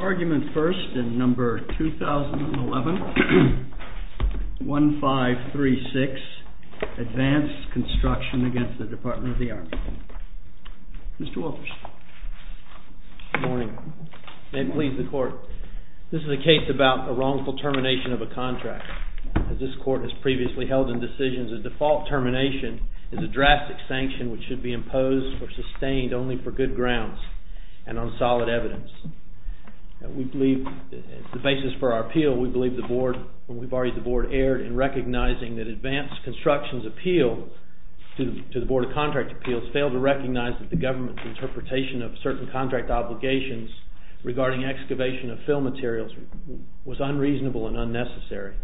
ARGUMENT FIRST NUMBER 2011-1536 ADVANCE CONSTRUCTION V. DEPARTMENT OF THE ARMY Good morning. May it please the Court, this is a case about a wrongful termination of a contract. As this Court has previously held in decisions, a default termination is a drastic sanction which should be imposed or sustained only for good grounds and on solid evidence. The basis for our appeal, we believe the Board, when we barred the Board, erred in recognizing that ADVANCE CONSTRUCTION's appeal to the Board of Contract Appeals failed to recognize that the Government's interpretation of certain contract obligations regarding excavation of fill materials was unreasonable and unnecessary.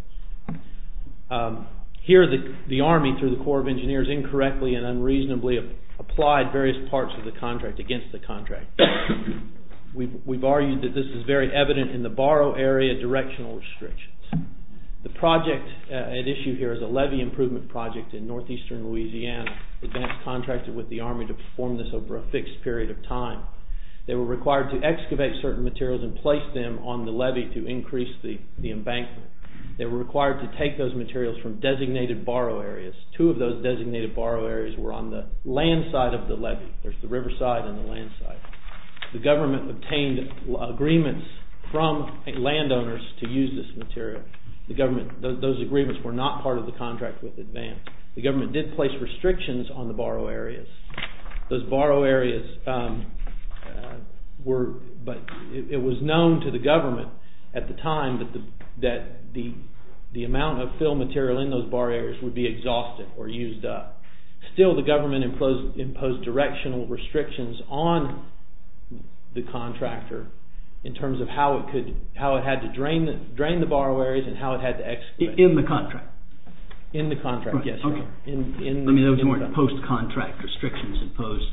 Here the Army, through the Corps of Engineers, incorrectly and unreasonably applied various parts of the contract against the contract. We've argued that this is very evident in the borrow area directional restrictions. The project at issue here is a levee improvement project in northeastern Louisiana. ADVANCE contracted with the Army to perform this over a fixed period of time. They were required to excavate certain materials and place them on the levee to increase the embankment. They were required to take those materials from designated borrow areas. Two of those designated borrow areas were on the land side of the levee. There's the river side and the land side. The Government obtained agreements from landowners to use this material. Those agreements were not part of the contract with ADVANCE. The Government did place restrictions on the borrow areas. It was known to the Government at the time that the amount of fill material in those borrow areas would be exhausted or used up. Still, the Government imposed directional restrictions on the contractor in terms of how it had to drain the borrow areas and how it had to excavate. In the contract? In the contract, yes. Those weren't post-contract restrictions imposed?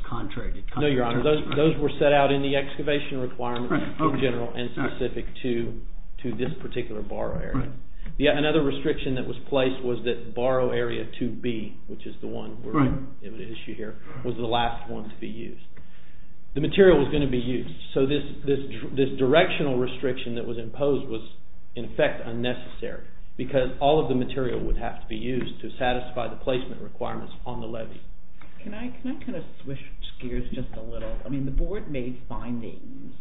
No, Your Honor. Those were set out in the excavation requirements in general and specific to this particular borrow area. Another restriction that was placed was that borrow area 2B, which is the one at issue here, was the last one to be used. The material was going to be used, so this directional restriction that was imposed was, in effect, unnecessary because all of the material would have to be used to satisfy the placement requirements on the levee. Can I kind of switch gears just a little? I mean, the Board made findings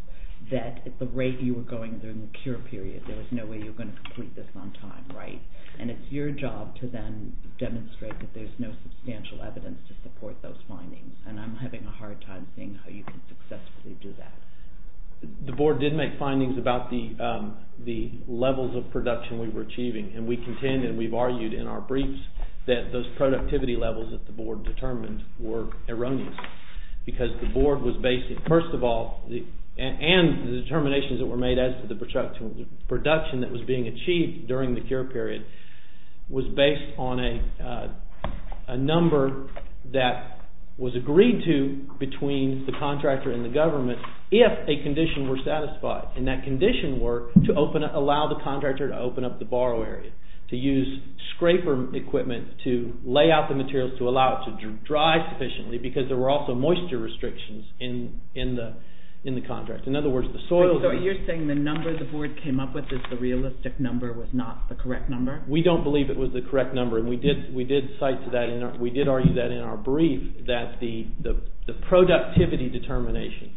that at the rate you were going during the cure period, there was no way you were going to complete this on time, right? And it's your job to then demonstrate that there's no substantial evidence to support those findings, and I'm having a hard time seeing how you can successfully do that. The Board did make findings about the levels of production we were achieving, and we contend and we've argued in our briefs that those productivity levels that the Board determined were erroneous because the Board was based, first of all, and the determinations that were made as to the production that was being achieved during the cure period was based on a number that was agreed to between the contractor and the government if a condition were satisfied, and that condition were to allow the contractor to open up the borrow area, to use scraper equipment to lay out the materials to allow it to dry sufficiently because there were also moisture restrictions in the contract. In other words, the soil... So you're saying the number the Board came up with is the realistic number, was not the correct number? We don't believe it was the correct number, and we did cite to that, and we did argue that in our brief that the productivity determination,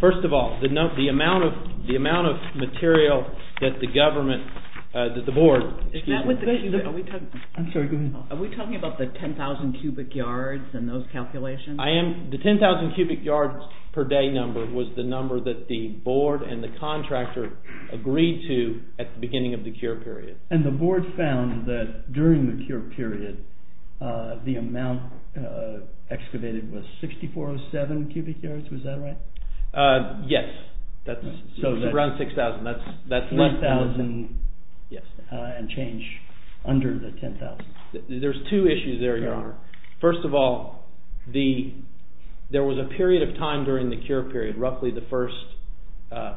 first of all, the amount of material that the government, that the Board... Is that what the... I'm sorry, go ahead. Are we talking about the 10,000 cubic yards and those calculations? The 10,000 cubic yards per day number was the number that the Board and the contractor agreed to at the beginning of the cure period. And the Board found that during the cure period, the amount excavated was 6,407 cubic yards, was that right? Yes, that's around 6,000, that's... 3,000 and change under the 10,000. There's two issues there, Your Honor. First of all, there was a period of time during the cure period, roughly the first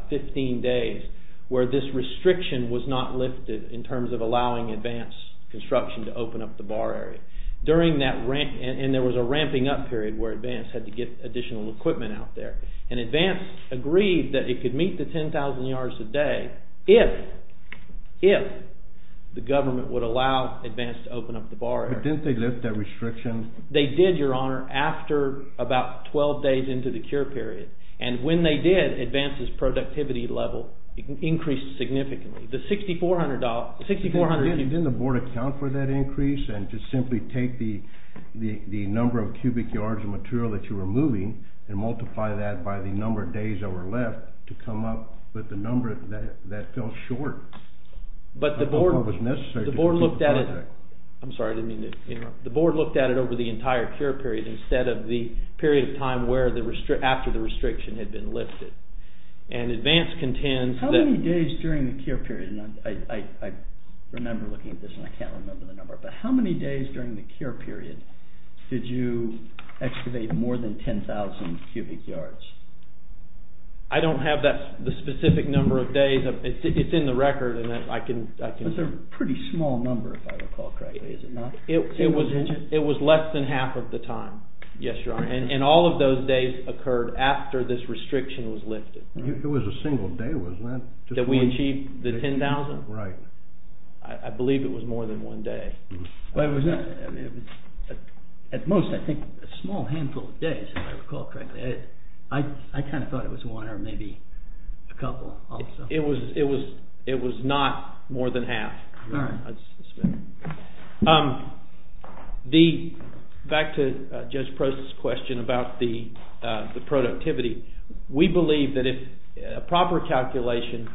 15 days, where this restriction was not lifted in terms of allowing advanced construction to open up the bar area. And there was a ramping up period where advanced had to get additional equipment out there. And advanced agreed that it could meet the 10,000 yards a day if the government would allow advanced to open up the bar area. But didn't they lift that restriction? They did, Your Honor, after about 12 days into the cure period. And when they did, advanced's productivity level increased significantly. Didn't the Board account for that increase? And to simply take the number of cubic yards of material that you were moving and multiply that by the number of days that were left to come up with the number that fell short? But the Board looked at it... I'm sorry, I didn't mean to interrupt. The Board looked at it over the entire cure period instead of the period of time after the restriction had been lifted. And advanced contends that... I remember looking at this, and I can't remember the number, but how many days during the cure period did you excavate more than 10,000 cubic yards? I don't have the specific number of days. It's in the record, and I can... It's a pretty small number, if I recall correctly, is it not? It was less than half of the time, yes, Your Honor. And all of those days occurred after this restriction was lifted. It was a single day, wasn't it? Did we achieve the 10,000? Right. I believe it was more than one day. At most, I think, a small handful of days, if I recall correctly. I kind of thought it was one or maybe a couple also. It was not more than half. All right. Back to Judge Prost's question about the productivity. We believe that a proper calculation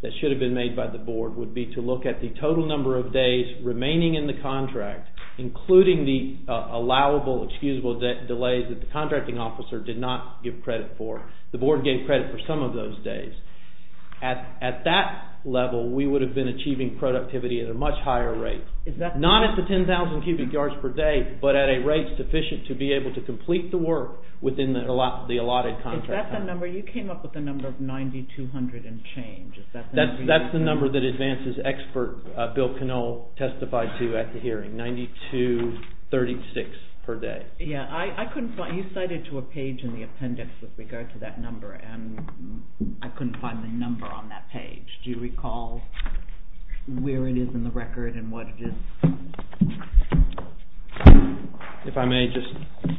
that should have been made by the Board would be to look at the total number of days remaining in the contract, including the allowable, excusable delays that the contracting officer did not give credit for. The Board gave credit for some of those days. At that level, we would have been achieving productivity at a much higher rate. Not at the 10,000 cubic yards per day, but at a rate sufficient to be able to complete the work within the allotted contract. Is that the number? You came up with the number of 9,200 and change. That's the number that advances expert Bill Canole testified to at the hearing, 9,236 per day. I couldn't find it. You cited to a page in the appendix with regard to that number, and I couldn't find the number on that page. Do you recall where it is in the record and what it is? If I may, just...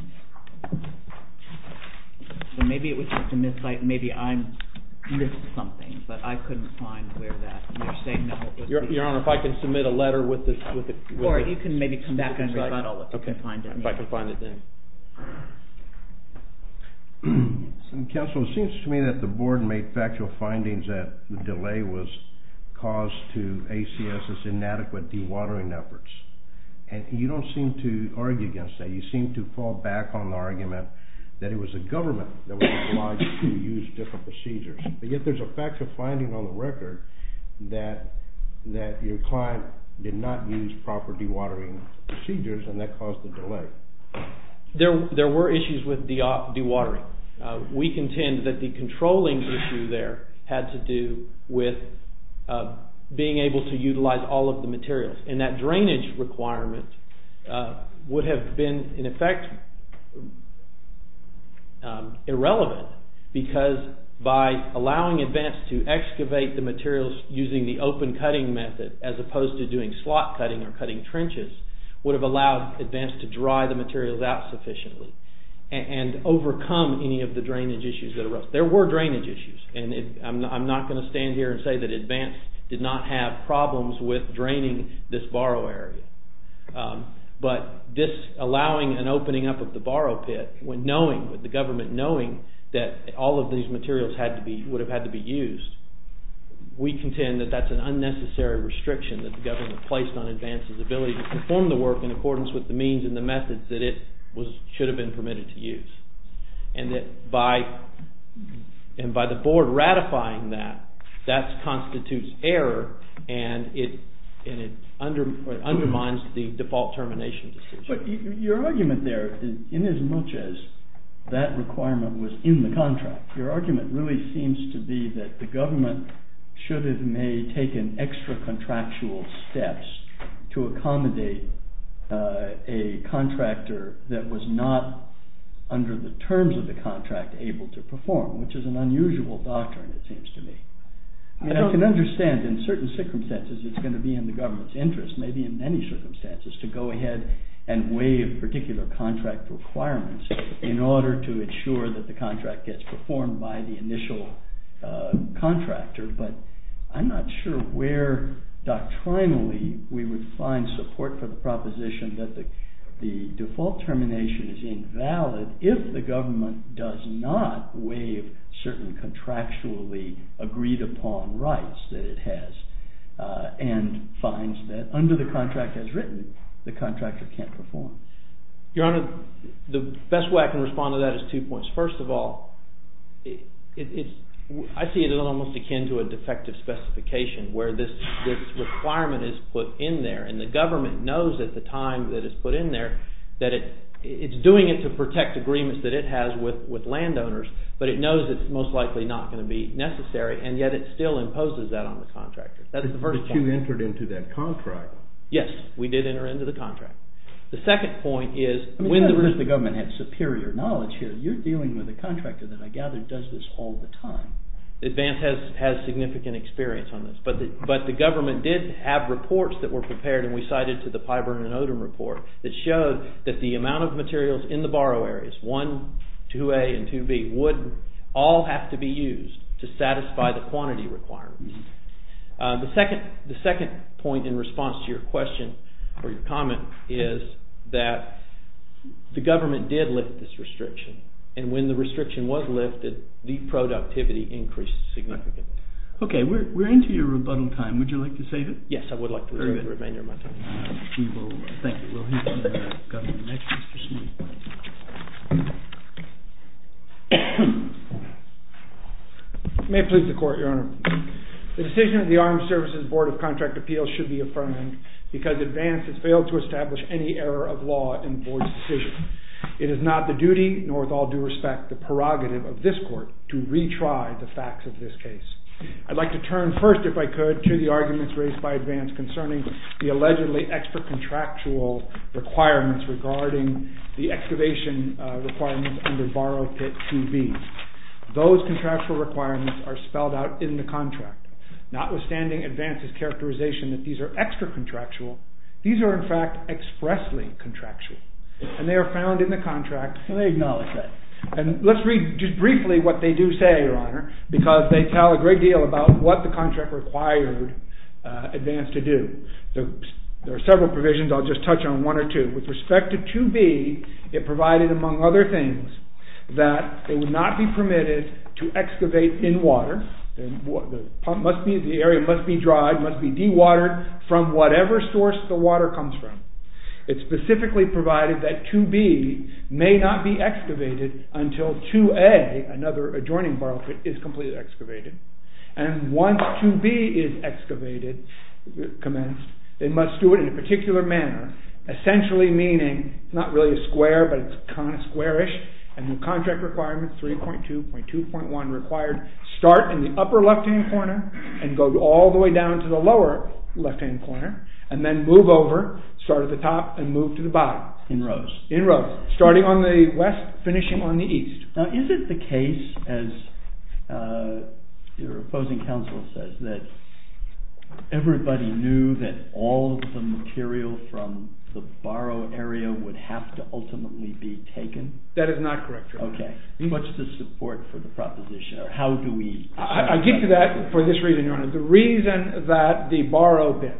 Maybe it was just a miscite. Maybe I missed something, but I couldn't find where that... Your Honor, if I can submit a letter with this... Or you can maybe come back and rebuttal it. If I can find it then. Counsel, it seems to me that the Board made factual findings that the delay was caused to ACS's inadequate dewatering efforts. And you don't seem to argue against that. You seem to fall back on the argument that it was the government that was obliged to use different procedures. But yet there's a factual finding on the record that your client did not use proper dewatering procedures and that caused the delay. There were issues with dewatering. We contend that the controlling issue there had to do with being able to utilize all of the materials. And that drainage requirement would have been, in effect, irrelevant. Because by allowing ADVANCE to excavate the materials using the open cutting method as opposed to doing slot cutting or cutting trenches, would have allowed ADVANCE to dry the materials out sufficiently and overcome any of the drainage issues that arose. There were drainage issues. And I'm not going to stand here and say that ADVANCE did not have problems with draining this borrow area. But this allowing an opening up of the borrow pit when knowing, the government knowing that all of these materials would have had to be used, we contend that that's an unnecessary restriction that the government placed on ADVANCE's ability to perform the work in accordance with the means and the methods that it should have been permitted to use. And that by the board ratifying that, that constitutes error and it undermines the default termination decision. But your argument there, in as much as that requirement was in the contract, your argument really seems to be that the government should have may taken extra contractual steps to accommodate a contractor that was not under the terms of the contract able to perform, which is an unusual doctrine it seems to me. I can understand in certain circumstances it's going to be in the government's interest, maybe in many circumstances, to go ahead and waive particular contract requirements in order to ensure that the contract gets performed by the initial contractor. But I'm not sure where doctrinally we would find support for the proposition that the default termination is invalid if the government does not waive certain contractually agreed upon rights that it has and finds that under the contract as written the contractor can't perform. Your Honor, the best way I can respond to that is two points. First of all, I see it almost akin to a defective specification where this requirement is put in there and the government knows at the time that it's put in there that it's doing it to protect agreements that it has with landowners, but it knows it's most likely not going to be necessary and yet it still imposes that on the contractor. That's the first point. But you entered into that contract. Yes, we did enter into the contract. The second point is... It's not that the government has superior knowledge here. You're dealing with a contractor that I gather does this all the time. Advance has significant experience on this, but the government did have reports that were prepared and we cited to the Pyburn and Odom report that showed that the amount of materials in the borrow areas, 1, 2A and 2B, would all have to be used to satisfy the quantity requirements. The second point in response to your question or your comment is that the government did lift this restriction and when the restriction was lifted, the productivity increased significantly. Okay, we're into your rebuttal time. Would you like to save it? Yes, I would like to reserve the remainder of my time. Thank you. We'll hear from the Governor next, Mr. Smith. May it please the Court, Your Honor. The decision of the Armed Services Board of Contract Appeals should be affirmed because Advance has failed to establish any error of law in the Board's decision. It is not the duty, nor with all due respect, the prerogative of this Court to retry the facts of this case. I'd like to turn first, if I could, to the arguments raised by Advance concerning the allegedly extra-contractual requirements regarding the excavation requirements under Borrow Kit 2B. Those contractual requirements are spelled out in the contract. Notwithstanding Advance's characterization that these are extra-contractual, these are in fact expressly contractual. And they are found in the contract and they acknowledge that. Because they tell a great deal about what the contract required Advance to do. There are several provisions. I'll just touch on one or two. With respect to 2B, it provided, among other things, that it would not be permitted to excavate in water. The area must be dried, must be dewatered from whatever source the water comes from. It specifically provided that 2B may not be excavated until 2A, another adjoining Borrow Kit, is completely excavated. And once 2B is excavated, commenced, it must do it in a particular manner. Essentially meaning, it's not really a square, but it's kind of squarish. And the contract requirements, 3.2, 2.1 required, start in the upper left-hand corner and go all the way down to the lower left-hand corner. And then move over, start at the top and move to the bottom. In rows. In rows. Starting on the west, finishing on the east. Now, is it the case, as your opposing counsel says, that everybody knew that all of the material from the borrow area would have to ultimately be taken? That is not correct, Your Honor. Okay. What's the support for the proposition? Or how do we... I give you that for this reason, Your Honor. The reason that the Borrow Bits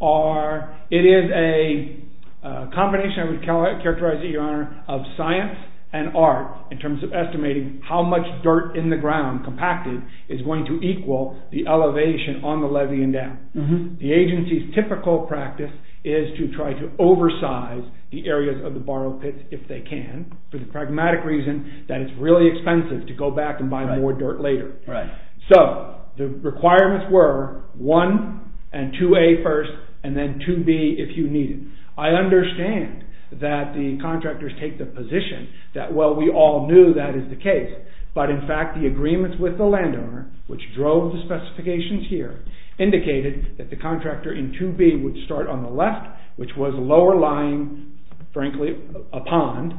are... It is a combination, I would characterize it, Your Honor, of science and art in terms of estimating how much dirt in the ground, compacted, is going to equal the elevation on the levee and down. The agency's typical practice is to try to oversize the areas of the Borrow Bits if they can for the pragmatic reason that it's really expensive to go back and buy more dirt later. Right. So, the requirements were 1 and 2A first, and then 2B if you need it. I understand that the contractors take the position that, well, we all knew that is the case. But, in fact, the agreements with the landowner, which drove the specifications here, indicated that the contractor in 2B would start on the left, which was lower lying, frankly, a pond,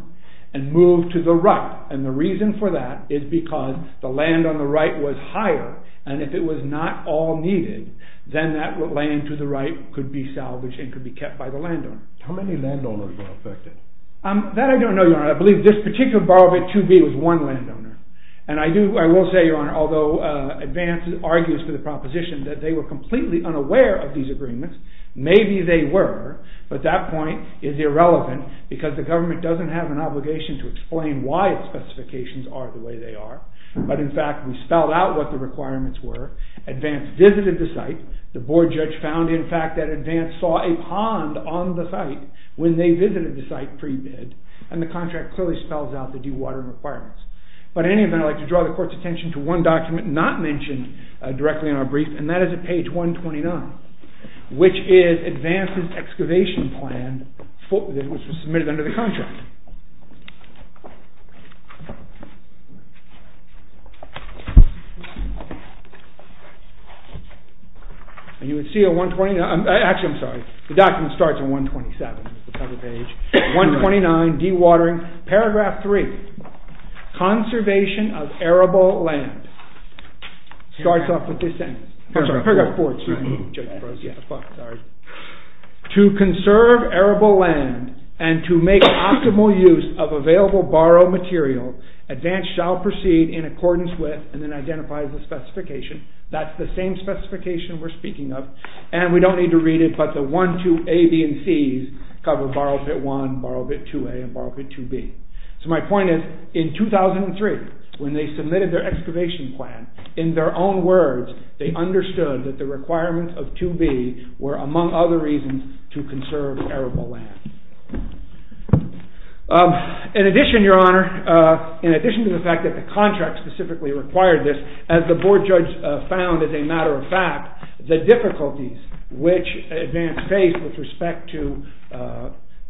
and move to the right. And the reason for that is because the land on the right was higher, and if it was not all needed, then that land to the right could be salvaged and could be kept by the landowner. How many landowners were affected? That I don't know, Your Honor. I believe this particular Borrow Bit, 2B, was one landowner. And I will say, Your Honor, although Advance argues for the proposition that they were completely unaware of these agreements, maybe they were, but that point is irrelevant because the government doesn't have an obligation to explain why its specifications are the way they are. But, in fact, we spelled out what the requirements were. Advance visited the site. The board judge found, in fact, that Advance saw a pond on the site when they visited the site pre-bid, and the contract clearly spells out the dewatering requirements. But, in any event, I'd like to draw the Court's attention to one document not mentioned directly in our brief, and that is at page 129, which is Advance's excavation plan, which was submitted under the contract. And you would see on 129, actually, I'm sorry, the document starts on 127, the cover page, 129, dewatering, paragraph 3, conservation of arable land. It starts off with this sentence, paragraph 4. To conserve arable land and to make optimal use of available borrowed material, Advance shall proceed in accordance with, and then identifies the specification. That's the same specification we're speaking of, and we don't need to read it, but the 1, 2a, b, and c's cover borrowed bit 1, borrowed bit 2a, and borrowed bit 2b. So my point is, in 2003, when they submitted their excavation plan, in their own words, they understood that the requirements of 2b were among other reasons to conserve arable land. In addition, Your Honor, in addition to the fact that the contract specifically required this, as the Board judge found as a matter of fact, the difficulties which Advance faced with respect to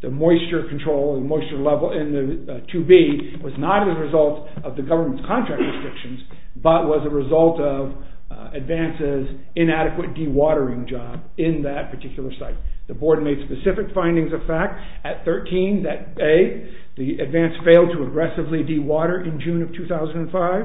the moisture control, the moisture level in 2b was not as a result of the government's contract restrictions, but was a result of Advance's inadequate dewatering job in that particular site. The Board made specific findings of fact at 13, that a, the Advance failed to aggressively dewater in June of 2005.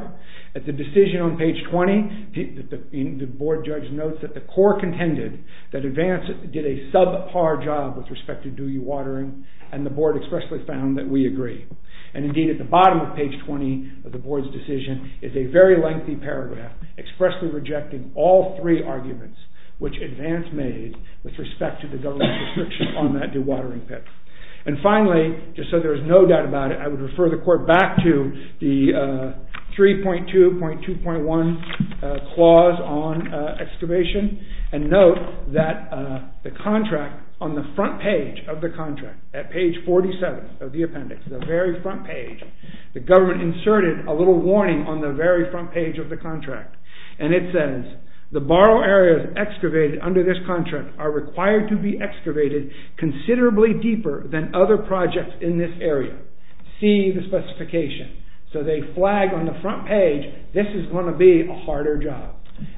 At the decision on page 20, the Board judge notes that the core contended that Advance did a subpar job with respect to dewatering, and the Board expressly found that we agree. And indeed at the bottom of page 20 of the Board's decision is a very lengthy paragraph expressly rejecting all three arguments which Advance made with respect to the government's restrictions on that dewatering pit. And finally, just so there is no doubt about it, I would refer the Court back to the 3.2.2.1 clause on excavation, and note that the contract on the front page of the contract, at page 47 of the appendix, the very front page, the government inserted a little warning on the very front page of the contract, and it says, the borrow areas excavated under this contract are required to be excavated considerably deeper than other projects in this area. See the specification. So they flag on the front page, this is going to be a harder job.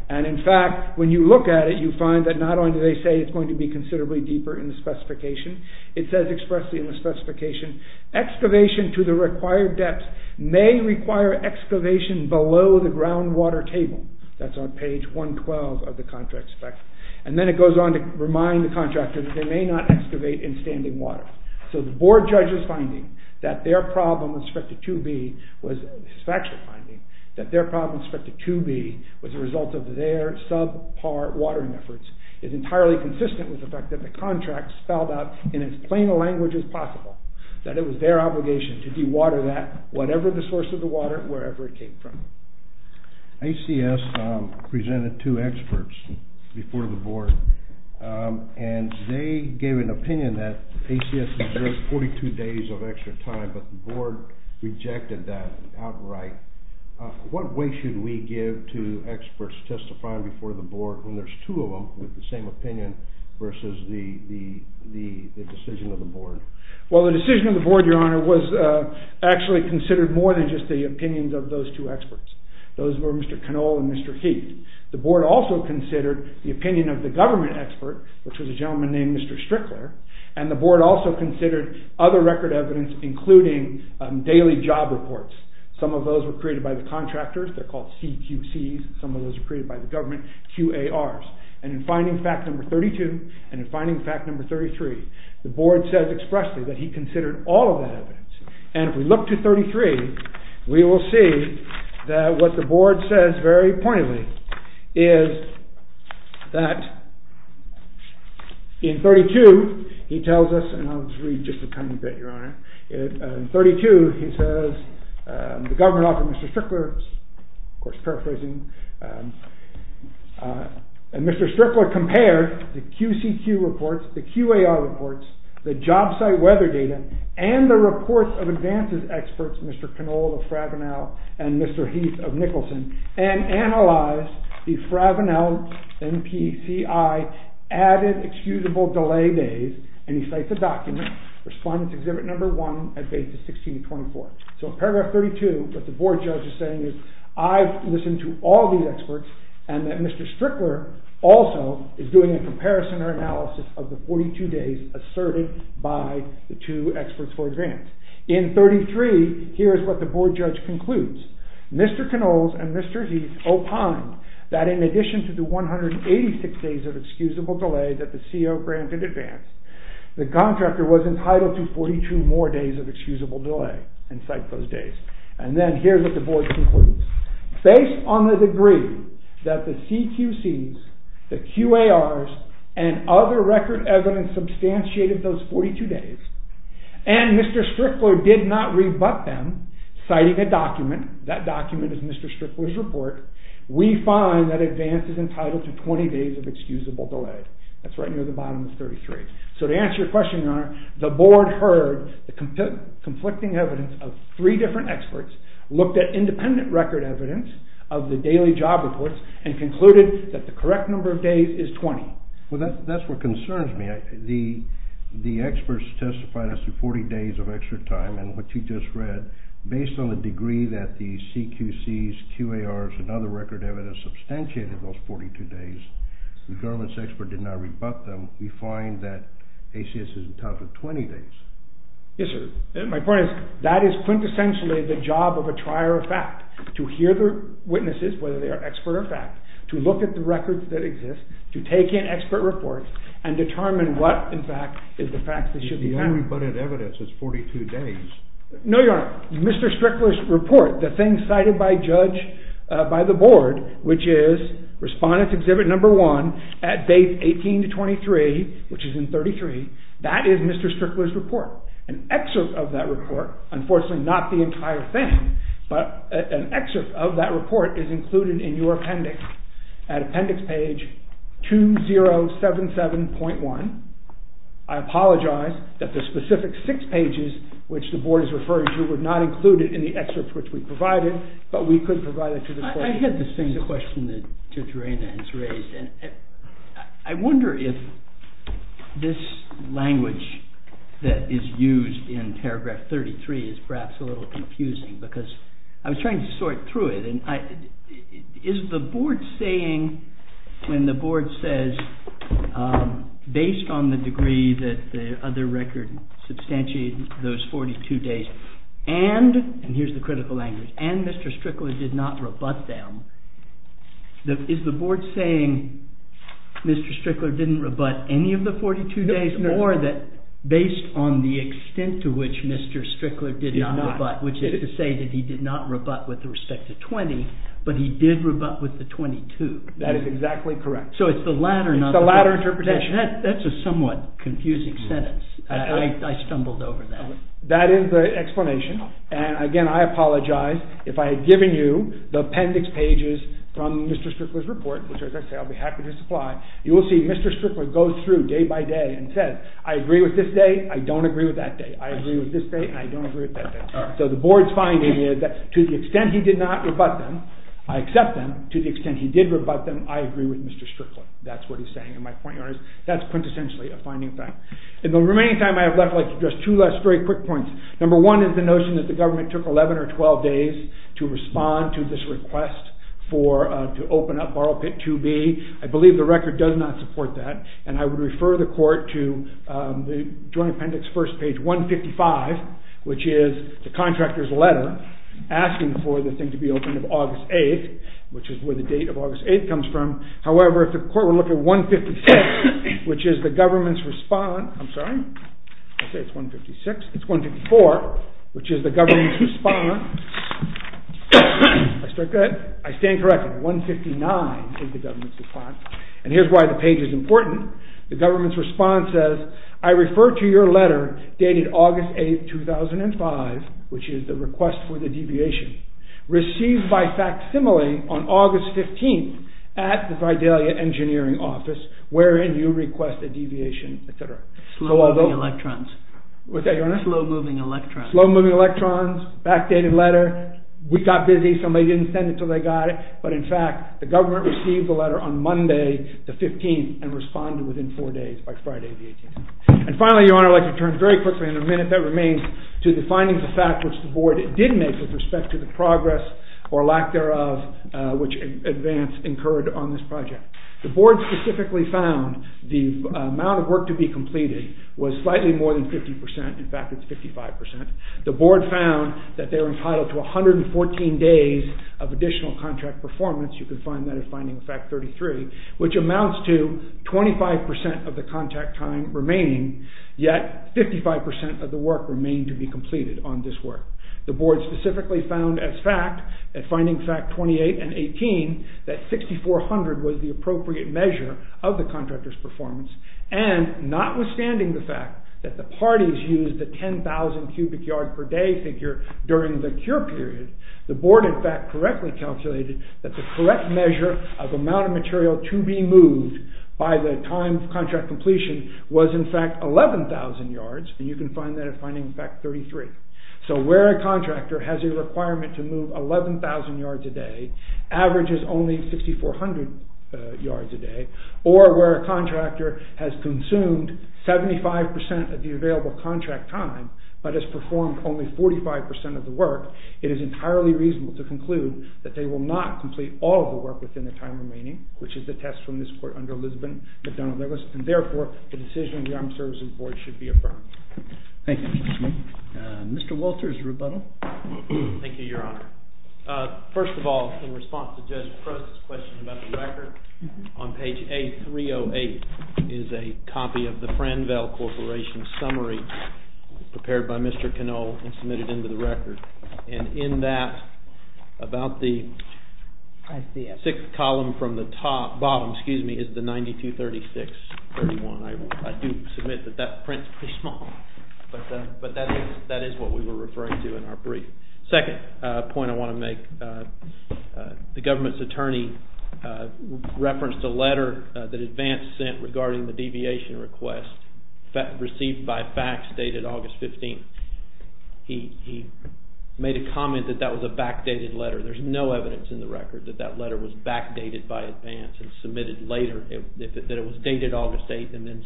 And in fact, when you look at it, you find that not only do they say it's going to be considerably deeper in the specification, it says expressly in the specification, excavation to the required depth may require excavation below the groundwater table. That's on page 112 of the contract spec. And then it goes on to remind the contractor that they may not excavate in standing water. So the Board judge's finding that their problem with respect to 2B, was a factual finding, that their problem with respect to 2B was a result of their subpar watering efforts is entirely consistent with the fact that the contract spelled out in as plain a language as possible, that it was their obligation to dewater that, whatever the source of the water, wherever it came from. ACS presented two experts before the Board, and they gave an opinion that ACS deserves 42 days of extra time, but the Board rejected that outright. What weight should we give to experts testifying before the Board when there's two of them with the same opinion versus the decision of the Board? Well, the decision of the Board, Your Honor, was actually considered more than just the opinions of those two experts. Those were Mr. Canole and Mr. Heath. The Board also considered the opinion of the government expert, which was a gentleman named Mr. Strickler, and the Board also considered other record evidence, including daily job reports. Some of those were created by the contractors. They're called CQCs. Some of those were created by the government, QARs. And in finding fact number 32 and in finding fact number 33, the Board says expressly that he considered all of that evidence. And if we look to 33, we will see that what the Board says very pointedly is that in 32, he tells us, and I'll just read just a tiny bit, Your Honor. In 32, he says, The government offered Mr. Strickler, of course, paraphrasing, and Mr. Strickler compared the QCQ reports, the QAR reports, the job site weather data, and the reports of advances experts, Mr. Canole of Fravenel and Mr. Heath of Nicholson, and analyzed the Fravenel-NPCI added excusable delay days, and he cites the document, Respondents Exhibit No. 1 at Bases 16 and 24. So in paragraph 32, what the Board judge is saying is, I've listened to all these experts, and that Mr. Strickler also is doing a comparison or analysis of the 42 days asserted by the two experts for advance. In 33, here is what the Board judge concludes. Mr. Canoles and Mr. Heath opined that in addition to the 186 days of excusable delay that the CO granted advance, the contractor was entitled to 42 more days of excusable delay. And cite those days. And then here is what the Board concludes. Based on the degree that the CQCs, the QARs, and other record evidence substantiated those 42 days, and Mr. Strickler did not rebut them citing a document, that document is Mr. Strickler's report, we find that advance is entitled to 20 days of excusable delay. So to answer your question, Your Honor, the Board heard the conflicting evidence of three different experts, looked at independent record evidence of the daily job reports, and concluded that the correct number of days is 20. Well, that's what concerns me. The experts testified as to 40 days of extra time, and what you just read, based on the degree that the CQCs, QARs, and other record evidence substantiated those 42 days, the government's expert did not rebut them, we find that ACS is entitled to 20 days. Yes, sir. My point is, that is quintessentially the job of a trier of fact, to hear the witnesses, whether they are expert or fact, to look at the records that exist, to take in expert reports, and determine what, in fact, is the fact that should be found. If the only rebutted evidence is 42 days... No, Your Honor. Mr. Strickler's report, the thing cited by the Board, which is Respondents Exhibit No. 1, at dates 18-23, which is in 33, that is Mr. Strickler's report. An excerpt of that report, unfortunately not the entire thing, but an excerpt of that report is included in your appendix, at appendix page 2077.1. I apologize that the specific six pages, which the Board is referring to, were not included in the excerpt which we provided, but we could provide it to the Court. I had the same question that Judge Reina has raised, and I wonder if this language that is used in paragraph 33 is perhaps a little confusing, because I was trying to sort through it, and is the Board saying, when the Board says, based on the degree that the other record substantiated those 42 days, and, and here's the critical language, and Mr. Strickler did not rebut them, is the Board saying Mr. Strickler didn't rebut any of the 42 days, or that based on the extent to which Mr. Strickler did not rebut, which is to say that he did not rebut with respect to 20, but he did rebut with the 22? That is exactly correct. So it's the latter, not the first. It's the latter interpretation. That's a somewhat confusing sentence. I stumbled over that. That is the explanation. And, again, I apologize. If I had given you the appendix pages from Mr. Strickler's report, which, as I say, I'll be happy to supply, you will see Mr. Strickler goes through day by day and says, I agree with this day, I don't agree with that day. I agree with this day, and I don't agree with that day. So the Board's finding is that to the extent he did not rebut them, I accept them, to the extent he did rebut them, I agree with Mr. Strickler. That's what he's saying, and my point here is that's quintessentially a finding fact. In the remaining time I have left, I'd like to address two last very quick points. Number one is the notion that the government took 11 or 12 days to respond to this request to open up Borough Pit 2B. I believe the record does not support that, and I would refer the Court to the Joint Appendix, first page 155, which is the contractor's letter asking for the thing to be opened of August 8th, which is where the date of August 8th comes from. However, if the Court were to look at 156, which is the government's response. I'm sorry, I'll say it's 156. It's 154, which is the government's response. Did I start good? I stand corrected. 159 is the government's response, and here's why the page is important. The government's response says, I refer to your letter dated August 8th, 2005, which is the request for the deviation, received by facsimile on August 15th at the Vidalia Engineering Office, wherein you request a deviation, et cetera. Slow-moving electrons. What's that, Your Honor? Slow-moving electrons. Slow-moving electrons, backdated letter. We got busy. Somebody didn't send it until they got it, but in fact the government received the letter on Monday, the 15th, and responded within four days, by Friday the 18th. And finally, Your Honor, I'd like to turn very quickly in the minute that remains to the findings of fact which the Board did make with respect to the progress or lack thereof which advance incurred on this project. The Board specifically found the amount of work to be completed was slightly more than 50 percent. In fact, it's 55 percent. The Board found that they're entitled to 114 days of additional contract performance. You can find that at finding fact 33, which amounts to 25 percent of the contact time remaining, yet 55 percent of the work remained to be completed on this work. The Board specifically found as fact, at finding fact 28 and 18, that 6,400 was the appropriate measure of the contractor's performance, and notwithstanding the fact that the parties used the 10,000 cubic yard per day figure during the cure period, the Board in fact correctly calculated that the correct measure of amount of material to be moved by the time of contract completion was in fact 11,000 yards, and you can find that at finding fact 33. So where a contractor has a requirement to move 11,000 yards a day averages only 6,400 yards a day, or where a contractor has consumed 75 percent of the available contract time but has performed only 45 percent of the work, it is entirely reasonable to conclude that they will not complete all of the work within the time remaining, which is the test from this Court under Elizabeth McDonnell-Lewis, and therefore, the decision of the Armed Services Board should be affirmed. Thank you, Mr. Smith. Mr. Walters, rebuttal. Thank you, Your Honor. First of all, in response to Judge Prost's question about the record, on page A308 is a copy of the Franville Corporation Summary prepared by Mr. Canole and submitted into the record, and in that, about the sixth column from the bottom is the 9236.31. I do submit that that print is pretty small, but that is what we were referring to in our brief. Second point I want to make, the government's attorney referenced a letter that Advance sent regarding the deviation request received by FACS dated August 15th. He made a comment that that was a backdated letter. There is no evidence in the record that that letter was backdated by Advance and submitted later, that it was dated August 8th and then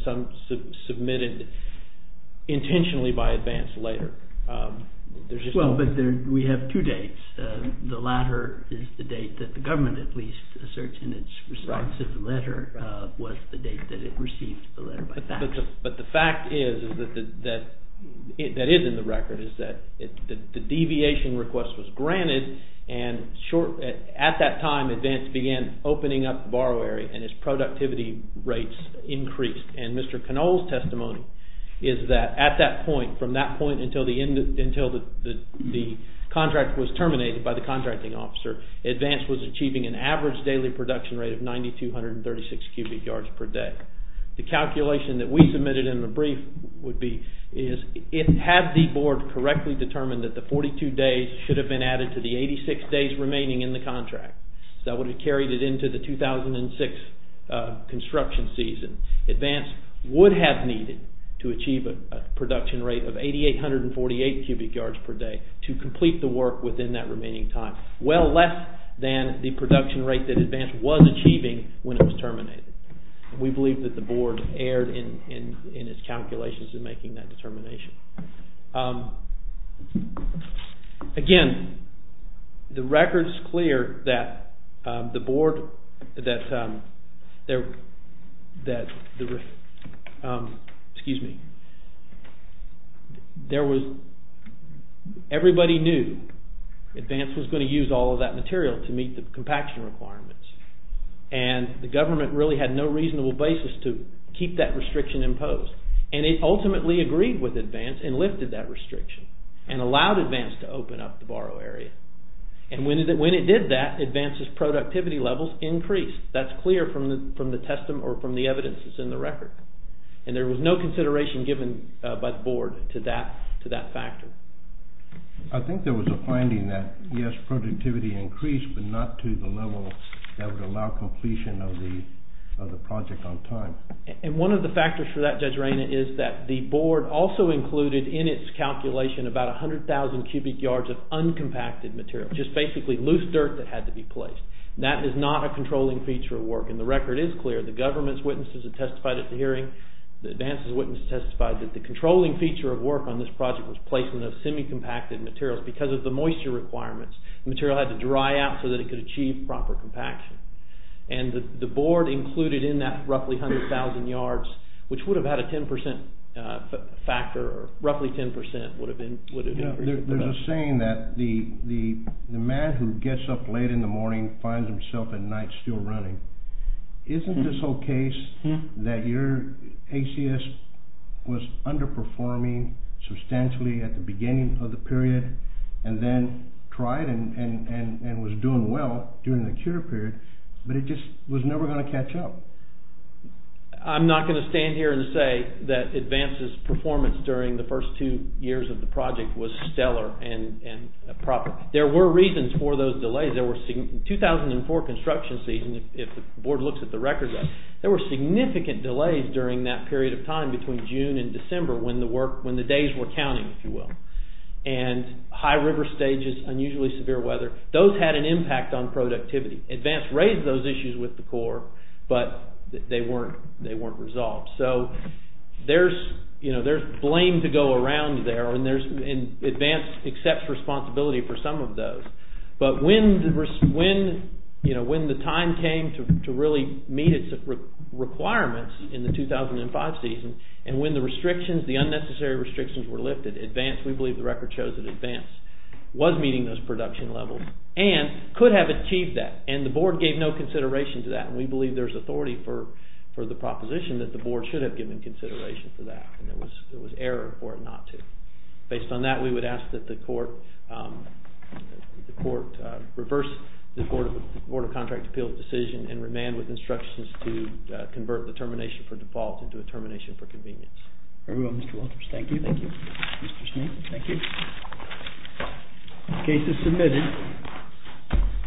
submitted intentionally by Advance later. Well, but we have two dates. The latter is the date that the government, at least, asserts in its response to the letter was the date that it received the letter by FACS. But the fact is, that is in the record, is that the deviation request was granted and at that time Advance began opening up the borrowery and its productivity rates increased. And Mr. Canole's testimony is that at that point, from that point until the contract was terminated by the contracting officer, Advance was achieving an average daily production rate of 9,236 cubic yards per day. The calculation that we submitted in the brief would be, had the board correctly determined that the 42 days should have been added to the 86 days remaining in the contract, that would have carried it into the 2006 construction season, Advance would have needed to achieve a production rate of 8,848 cubic yards per day to complete the work within that remaining time, well less than the production rate that Advance was achieving when it was terminated. We believe that the board erred in its calculations in making that determination. Again, the record's clear that the board, that the, excuse me, there was, everybody knew Advance was going to use all of that material to meet the compaction requirements and the government really had no reasonable basis to keep that restriction imposed and it ultimately agreed with Advance and lifted that restriction and allowed Advance to open up the borrowery and when it did that, Advance's productivity levels increased. That's clear from the evidence that's in the record and there was no consideration given by the board to that factor. I think there was a finding that yes, productivity increased, but not to the level that would allow completion of the project on time. And one of the factors for that, Judge Raina, is that the board also included in its calculation about 100,000 cubic yards of uncompacted material, just basically loose dirt that had to be placed. That is not a controlling feature of work and the record is clear. The government's witnesses have testified at the hearing, the Advance's witness testified that the controlling feature of work on this project was placement of semi-compacted materials because of the moisture requirements. The material had to dry out so that it could achieve proper compaction. And the board included in that roughly 100,000 yards, which would have had a 10% factor, roughly 10% would have increased. There's a saying that the man who gets up late in the morning finds himself at night still running. Isn't this whole case that your ACS was underperforming substantially at the beginning of the period and then tried and was doing well during the cure period, but it just was never going to catch up? I'm not going to stand here and say that Advance's performance during the first two years of the project was stellar and proper. There were reasons for those delays. In 2004 construction season, if the board looks at the record, there were significant delays during that period of time between June and December when the days were counting, if you will. And high river stages, unusually severe weather, those had an impact on productivity. Advance raised those issues with the Corps, but they weren't resolved. So there's blame to go around there, and Advance accepts responsibility for some of those. But when the time came to really meet its requirements in the 2005 season, and when the restrictions, the unnecessary restrictions were lifted, Advance, we believe the record shows that Advance was meeting those production levels and could have achieved that, and the board gave no consideration to that. We believe there's authority for the proposition that the board should have given consideration for that, and there was error for it not to. Based on that, we would ask that the court reverse the Board of Contract Appeals' decision and remand with instructions to convert the termination for default into a termination for convenience. Very well, Mr. Walters. Thank you. Thank you. Mr. Smith, thank you. Case is submitted.